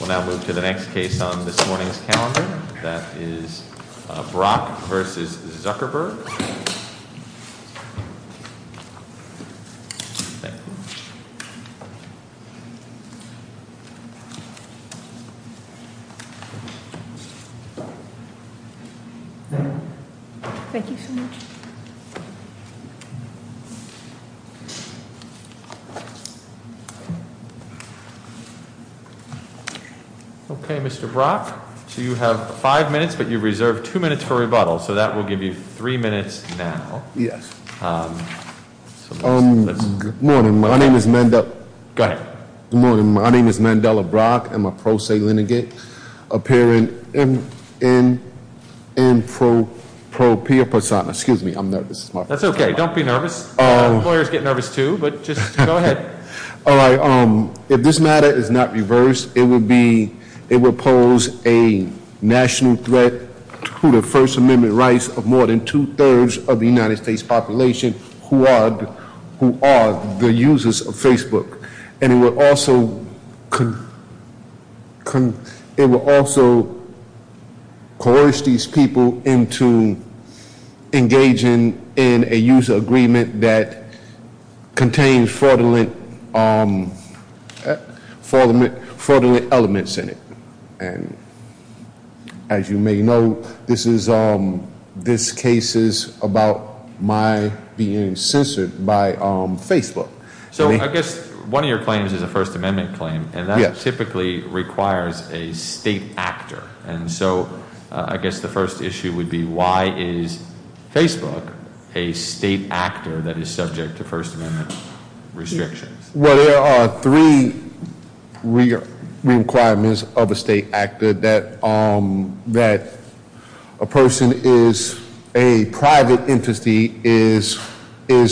We'll now move to the next case on this morning's calendar. That is Brock versus Zuckerberg. Thank you. Thank you so much. Okay, Mr. Brock, so you have five minutes, but you reserved two minutes for rebuttal. So that will give you three minutes now. Yes. Morning, my name is Mandela. Go ahead. Morning, my name is Mandela Brock. I'm a pro se lineage, appearing in pro pia persona. Excuse me, I'm nervous. That's okay, don't be nervous. Lawyers get nervous too, but just go ahead. All right, if this matter is not reversed, it will pose a national threat to the First Amendment rights of more than two-thirds of the United States population who are the users of Facebook. And it will also coerce these people into engaging in a user agreement that contains fraudulent elements in it. And as you may know, this case is about my being censored by Facebook. So I guess one of your claims is a First Amendment claim, and that typically requires a state actor. And so I guess the first issue would be why is Facebook a state actor that is subject to First Amendment restrictions? Well, there are three requirements of a state actor, that a person is a private entity, is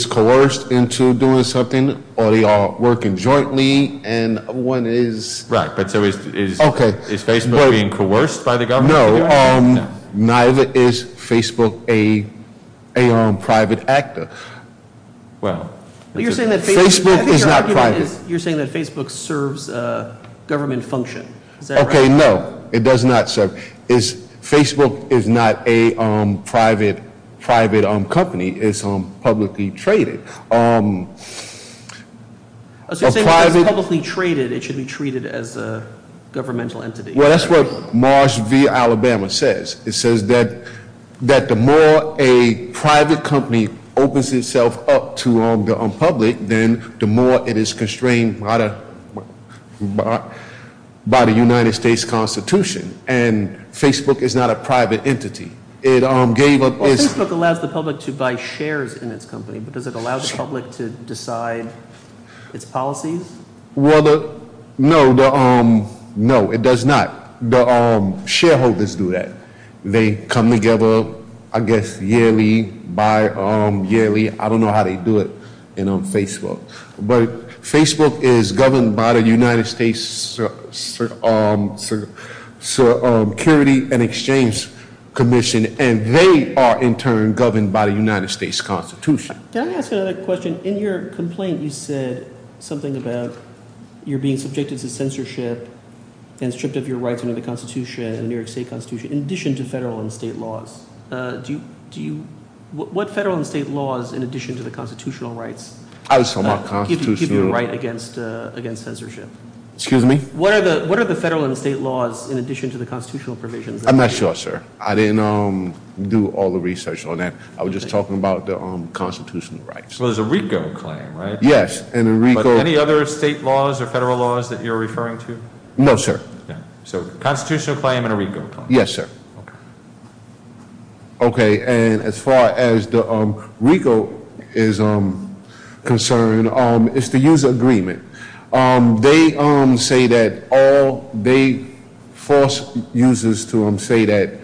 coerced into doing something, or they are working jointly, and one is- Right, but so is Facebook being coerced by the government? No, neither is Facebook a private actor. Well, Facebook is not private. You're saying that Facebook serves government function, is that right? Okay, no, it does not serve. Facebook is not a private company, it's publicly traded. So you're saying if it's publicly traded, it should be treated as a governmental entity? Well, that's what Marsh v. Alabama says. It says that the more a private company opens itself up to the public, then the more it is constrained by the United States Constitution. And Facebook is not a private entity. It gave up its- Well, Facebook allows the public to buy shares in its company, but does it allow the public to decide its policies? Well, no, it does not. The shareholders do that. They come together, I guess, yearly, bi-yearly, I don't know how they do it, and on Facebook. But Facebook is governed by the United States Security and Exchange Commission. And they are, in turn, governed by the United States Constitution. Can I ask you another question? In your complaint, you said something about you're being subjected to censorship and stripped of your rights under the Constitution, the New York State Constitution, in addition to federal and state laws. What federal and state laws, in addition to the constitutional rights, give you the right against censorship? Excuse me? What are the federal and state laws in addition to the constitutional provisions? I'm not sure, sir. I didn't do all the research on that. I was just talking about the constitutional rights. So there's a RICO claim, right? Yes, and a RICO- But any other state laws or federal laws that you're referring to? No, sir. So constitutional claim and a RICO claim. Yes, sir. Okay, and as far as the RICO is concerned, it's the user agreement. They say that all, they force users to say that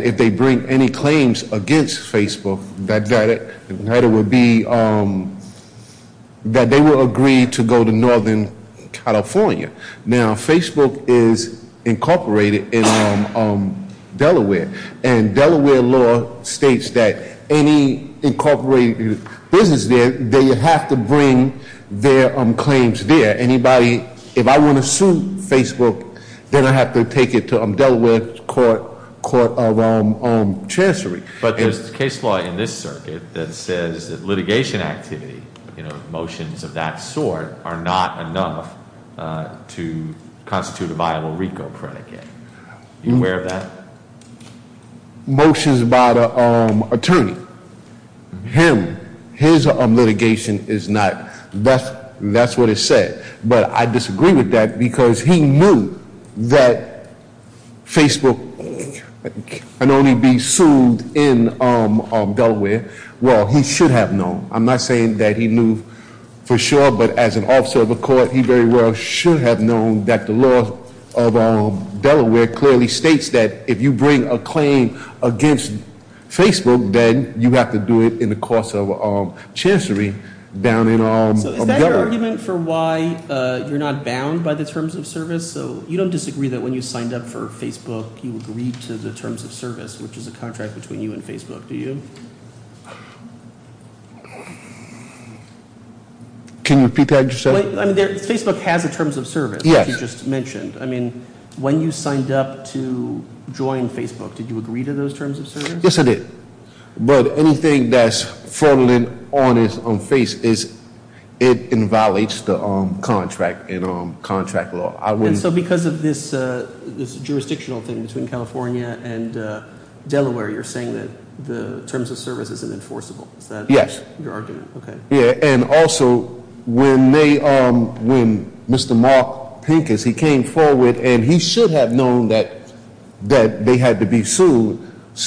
if they bring any claims against Facebook, that it would be, that they will agree to go to Northern California. Now, Facebook is incorporated in Delaware. And Delaware law states that any incorporated business there, they have to bring their claims there. Anybody, if I want to sue Facebook, then I have to take it to Delaware Court of Chancery. But there's case law in this circuit that says that litigation activity, motions of that sort, are not enough to constitute a viable RICO predicate. You aware of that? Motions by the attorney. Him, his litigation is not, that's what it said. But I disagree with that, because he knew that Facebook can only be sued in Delaware, well, he should have known. I'm not saying that he knew for sure, but as an officer of the court, he very well should have known that the law of Delaware clearly states that if you bring a claim against Facebook, then you have to do it in the course of chancery down in Delaware. So is that your argument for why you're not bound by the terms of service? So you don't disagree that when you signed up for Facebook, you agreed to the terms of service, which is a contract between you and Facebook, do you? Can you repeat that? Facebook has the terms of service that you just mentioned. I mean, when you signed up to join Facebook, did you agree to those terms of service? Yes, I did. But anything that's fronting on its own face, it inviolates the contract law. And so because of this jurisdictional thing between California and Delaware, you're saying that the terms of service isn't enforceable, is that- Yes. Your argument, okay. Yeah, and also, when Mr. Mark Pincus, he came forward and he should have known that they had to be sued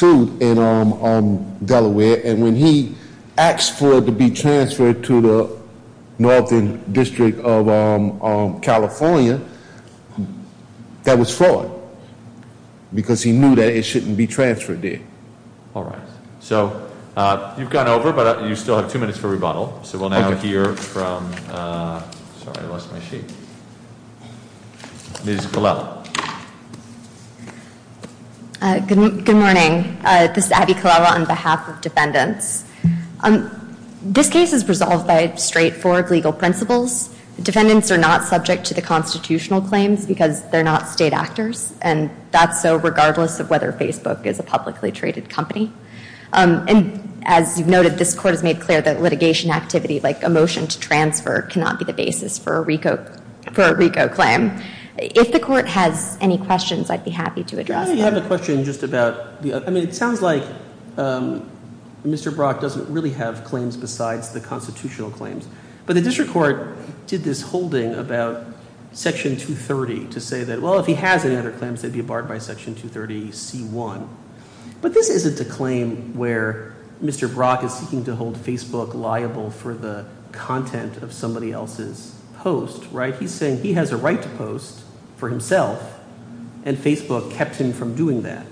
in Delaware. And when he asked for it to be transferred to the Northern District of California, that was fraud, because he knew that it shouldn't be transferred there. All right, so you've gone over, but you still have two minutes for rebuttal. So we'll now hear from, sorry, I lost my sheet. Ms. Colella. Good morning, this is Abby Colella on behalf of defendants. This case is resolved by straightforward legal principles. Defendants are not subject to the constitutional claims, because they're not state actors. And that's so regardless of whether Facebook is a publicly traded company. And as you've noted, this court has made clear that litigation activity, like a motion to transfer, cannot be the basis for a RICO claim. If the court has any questions, I'd be happy to address them. I have a question just about, I mean, it sounds like Mr. Brock doesn't really have claims besides the constitutional claims. But the district court did this holding about section 230 to say that, well, if he has any other claims, they'd be barred by section 230C1. But this isn't a claim where Mr. Brock is seeking to hold Facebook liable for the content of somebody else's post, right? He's saying he has a right to post for himself, and Facebook kept him from doing that.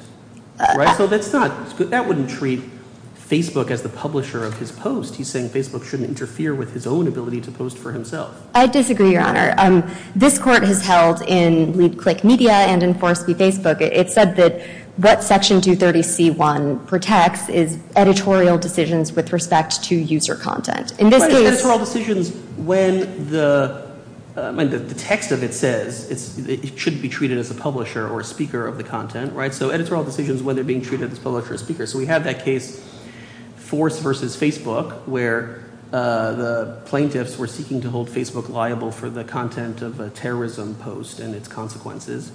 Right, so that's not, that wouldn't treat Facebook as the publisher of his post. He's saying Facebook shouldn't interfere with his own ability to post for himself. I disagree, Your Honor. This court has held in Lead Click Media and in Force Be Facebook, it said that what section 230C1 protects is editorial decisions with respect to user content. In this case- Editorial decisions when the text of it says it shouldn't be treated as a publisher or speaker of the content, right? So editorial decisions when they're being treated as a publisher or speaker. So we have that case, Force versus Facebook, where the plaintiffs were seeking to hold Facebook liable for the content of a terrorism post and its consequences.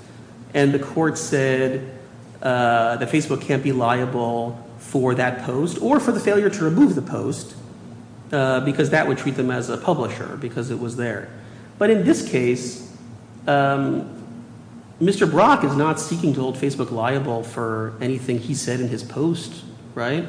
And the court said that Facebook can't be liable for that post, or for the failure to remove the post, because that would treat them as a publisher, because it was there. But in this case, Mr. Brock is not seeking to hold Facebook liable for anything he said in his post, right?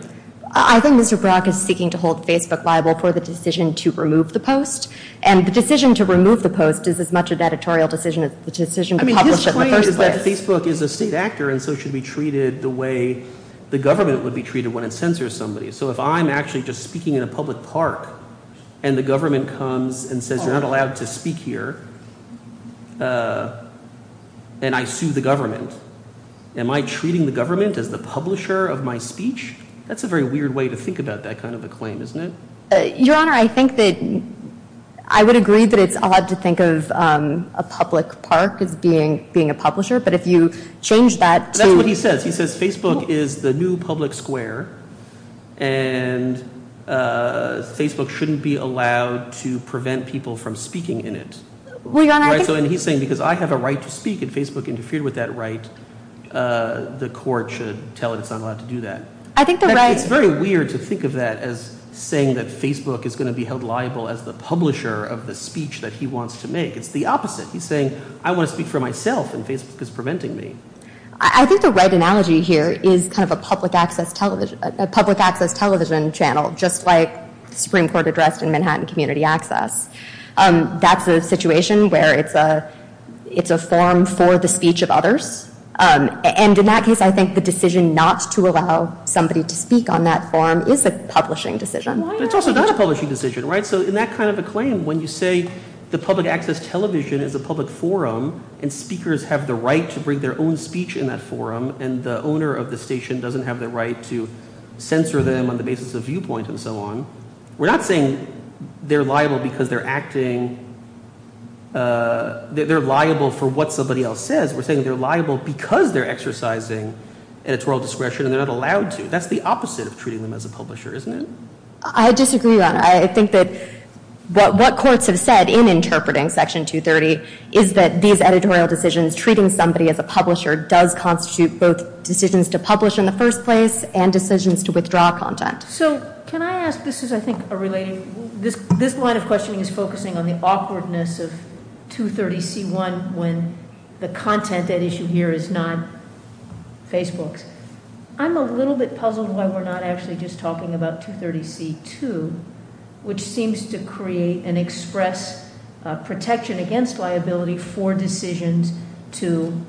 I think Mr. Brock is seeking to hold Facebook liable for the decision to remove the post. And the decision to remove the post is as much an editorial decision as the decision to publish it in the first place. Facebook is a state actor, and so it should be treated the way the government would be treated when it censors somebody. So if I'm actually just speaking in a public park, and the government comes and says you're not allowed to speak here. And I sue the government. Am I treating the government as the publisher of my speech? That's a very weird way to think about that kind of a claim, isn't it? Your Honor, I think that, I would agree that it's odd to think of a public park as being a publisher. But if you change that to- That's what he says. He says Facebook is the new public square. And Facebook shouldn't be allowed to prevent people from speaking in it. Well, Your Honor, I think- And he's saying because I have a right to speak, and Facebook interfered with that right, the court should tell it it's not allowed to do that. I think the right- It's very weird to think of that as saying that Facebook is going to be held liable as the publisher of the speech that he wants to make. It's the opposite. He's saying, I want to speak for myself, and Facebook is preventing me. I think the right analogy here is kind of a public access television channel, just like the Supreme Court addressed in Manhattan Community Access. That's a situation where it's a forum for the speech of others. And in that case, I think the decision not to allow somebody to speak on that forum is a publishing decision. But it's also not a publishing decision, right? So in that kind of a claim, when you say the public access television is a public forum, and speakers have the right to bring their own speech in that forum, and the owner of the station doesn't have the right to censor them on the basis of viewpoint and so on. We're not saying they're liable because they're acting, they're liable for what somebody else says. We're saying they're liable because they're exercising editorial discretion and they're not allowed to. That's the opposite of treating them as a publisher, isn't it? I disagree, Your Honor. I think that what courts have said in interpreting Section 230 is that these editorial decisions, treating somebody as a publisher does constitute both decisions to publish in the first place and decisions to withdraw content. So can I ask, this is I think a related, this line of questioning is focusing on the awkwardness of 230C1 when the content at issue here is not Facebook's. I'm a little bit puzzled why we're not actually just talking about 230C2, which seems to create and express protection against liability for decisions to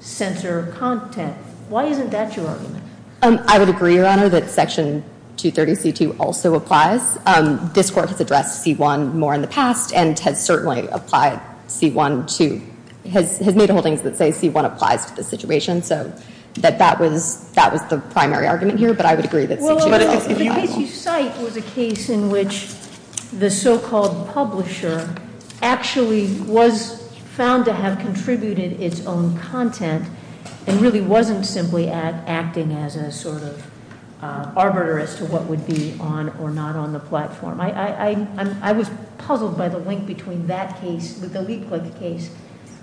censor content. Why isn't that your argument? I would agree, Your Honor, that Section 230C2 also applies. This court has addressed C1 more in the past and has certainly applied C1 to, has made holdings that say C1 applies to this situation, so that that was the primary argument here. But I would agree that C2 also applies. The case you cite was a case in which the so-called publisher actually was found to have contributed its own content and really wasn't simply acting as a sort of arbiter as to what would be on or not on the platform. I was puzzled by the link between that case, the Leapfrog case,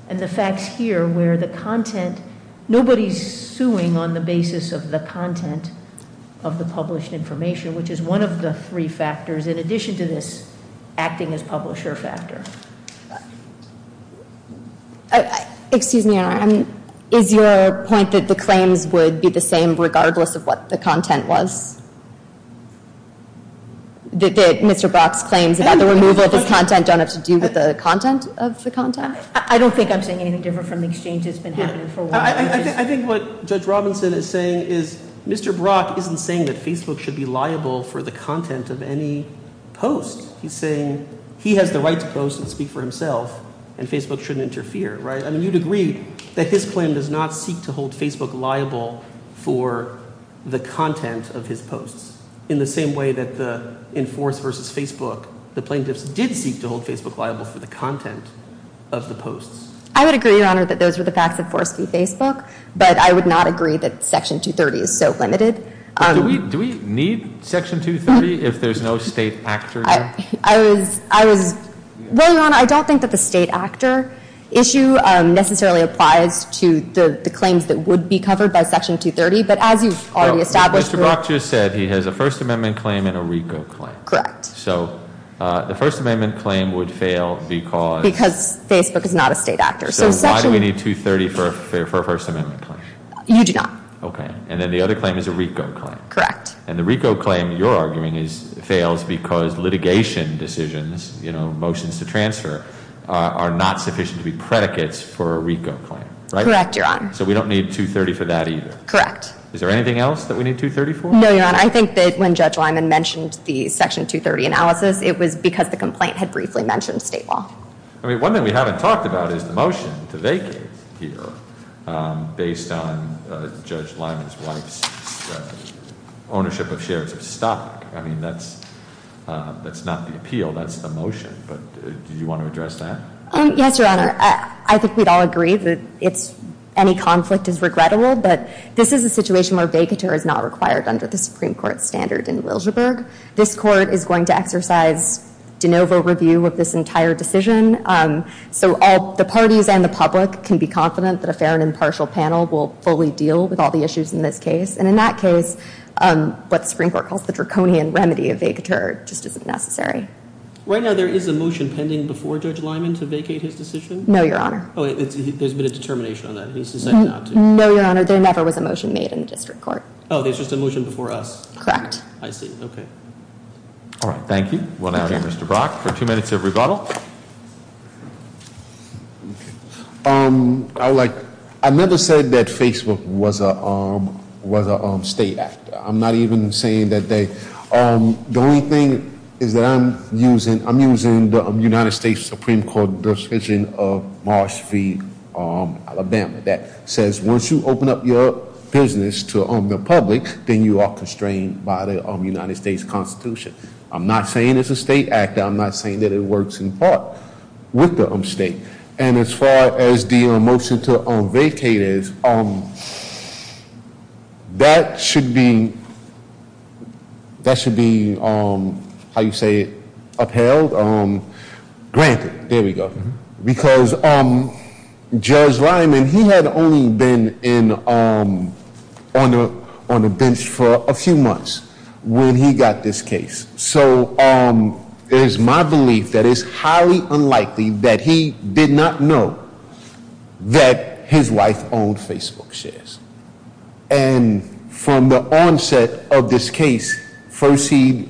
and the facts here where the content, nobody's suing on the basis of the content of the published information, which is one of the three factors in addition to this acting as publisher factor. Excuse me, Your Honor, is your point that the claims would be the same regardless of what the content was? That Mr. Brock's claims about the removal of his content don't have to do with the content of the content? I don't think I'm saying anything different from the exchange that's been happening for a while. I think what Judge Robinson is saying is Mr. Brock isn't saying that Facebook should be liable for the content of any post. He's saying he has the right to post and speak for himself, and Facebook shouldn't interfere, right? I mean, you'd agree that his claim does not seek to hold Facebook liable for the content of his posts in the same way that in Force versus Facebook, the plaintiffs did seek to hold Facebook liable for the content of the posts. I would agree, Your Honor, that those were the facts of Force v. Facebook, but I would not agree that Section 230 is so limited. Do we need Section 230 if there's no state actor here? I was, well, Your Honor, I don't think that the state actor issue necessarily applies to the claims that would be covered by Section 230, but as you've already established- Mr. Brock just said he has a First Amendment claim and a RICO claim. Correct. So the First Amendment claim would fail because- Because Facebook is not a state actor. So why do we need 230 for a First Amendment claim? You do not. Okay, and then the other claim is a RICO claim. Correct. And the RICO claim, you're arguing, fails because litigation decisions, motions to transfer, are not sufficient to be predicates for a RICO claim, right? Correct, Your Honor. So we don't need 230 for that either. Correct. Is there anything else that we need 230 for? No, Your Honor, I think that when Judge Lyman mentioned the Section 230 analysis, it was because the complaint had briefly mentioned state law. I mean, one thing we haven't talked about is the motion to vacate here based on Judge Lyman's wife's ownership of shares of stock. I mean, that's not the appeal, that's the motion, but do you want to address that? Yes, Your Honor, I think we'd all agree that any conflict is regrettable, but this is a situation where a vacater is not required under the Supreme Court standard in Wilshireburg. This court is going to exercise de novo review of this entire decision. So all the parties and the public can be confident that a fair and impartial panel will fully deal with all the issues in this case. And in that case, what the Supreme Court calls the draconian remedy of vacater just isn't necessary. Right now, there is a motion pending before Judge Lyman to vacate his decision? No, Your Honor. Oh, there's been a determination on that, and he's decided not to? No, Your Honor, there never was a motion made in the district court. Oh, there's just a motion before us? Correct. I see, okay. All right, thank you. We'll now hear Mr. Brock for two minutes of rebuttal. I never said that Facebook was a state actor. I'm not even saying that they, the only thing is that I'm using the United States Supreme Court decision of Marsh v Alabama that says, once you open up your business to the public, then you are constrained by the United States Constitution. I'm not saying it's a state actor, I'm not saying that it works in part with the state. And as far as the motion to vacate is, that should be, that should be, how you say it? Upheld, granted, there we go. Because Judge Lyman, he had only been on the bench for a few months when he got this case. So there's my belief that it's highly unlikely that he did not know that his wife owned Facebook shares. And from the onset of this case, first he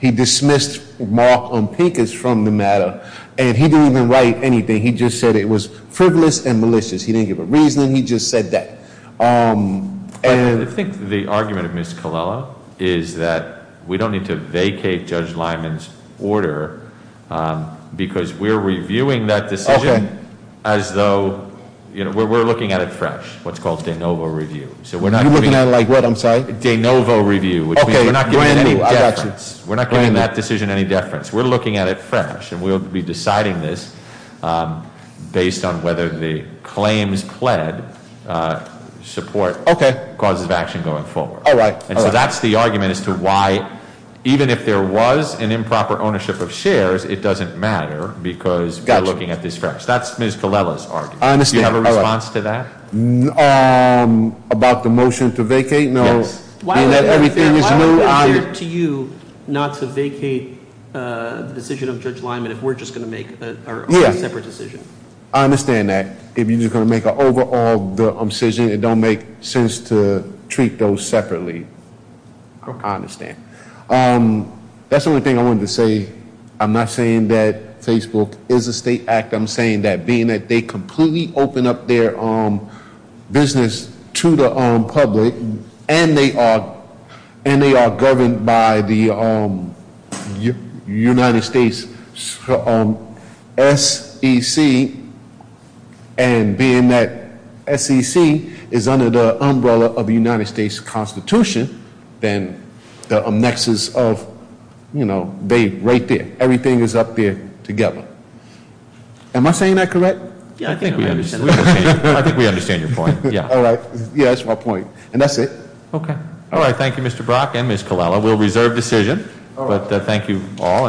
dismissed Mark Ompikas from the matter, and he didn't even write anything. He just said it was frivolous and malicious. He didn't give a reasoning, he just said that. And- I think the argument of Ms. Colella is that we don't need to vacate Judge Lyman's order, because we're reviewing that decision as though, we're looking at it fresh. What's called de novo review. So we're not- You're looking at it like what, I'm sorry? De novo review, which means we're not giving it any preference. We're not giving that decision any deference. We're looking at it fresh, and we'll be deciding this based on whether the claims pled support causes of action going forward. And so that's the argument as to why, even if there was an improper ownership of shares, it doesn't matter because we're looking at this fresh. That's Ms. Colella's argument. Do you have a response to that? About the motion to vacate? No. Why would it be fair to you not to vacate the decision of Judge Lyman if we're just going to make a separate decision? I understand that. If you're just going to make an overall decision, it don't make sense to treat those separately. I understand. That's the only thing I wanted to say. I'm not saying that Facebook is a state act. I'm saying that being that they completely open up their business to the public, and they are governed by the United States SEC. And being that SEC is under the umbrella of the United States Constitution. Then the nexus of, they right there. Everything is up there together. Am I saying that correct? Yeah, I think we understand. I think we understand your point, yeah. All right, yeah, that's my point. And that's it. Okay. All right, thank you, Mr. Brock and Ms. Colella. We'll reserve decision, but thank you all.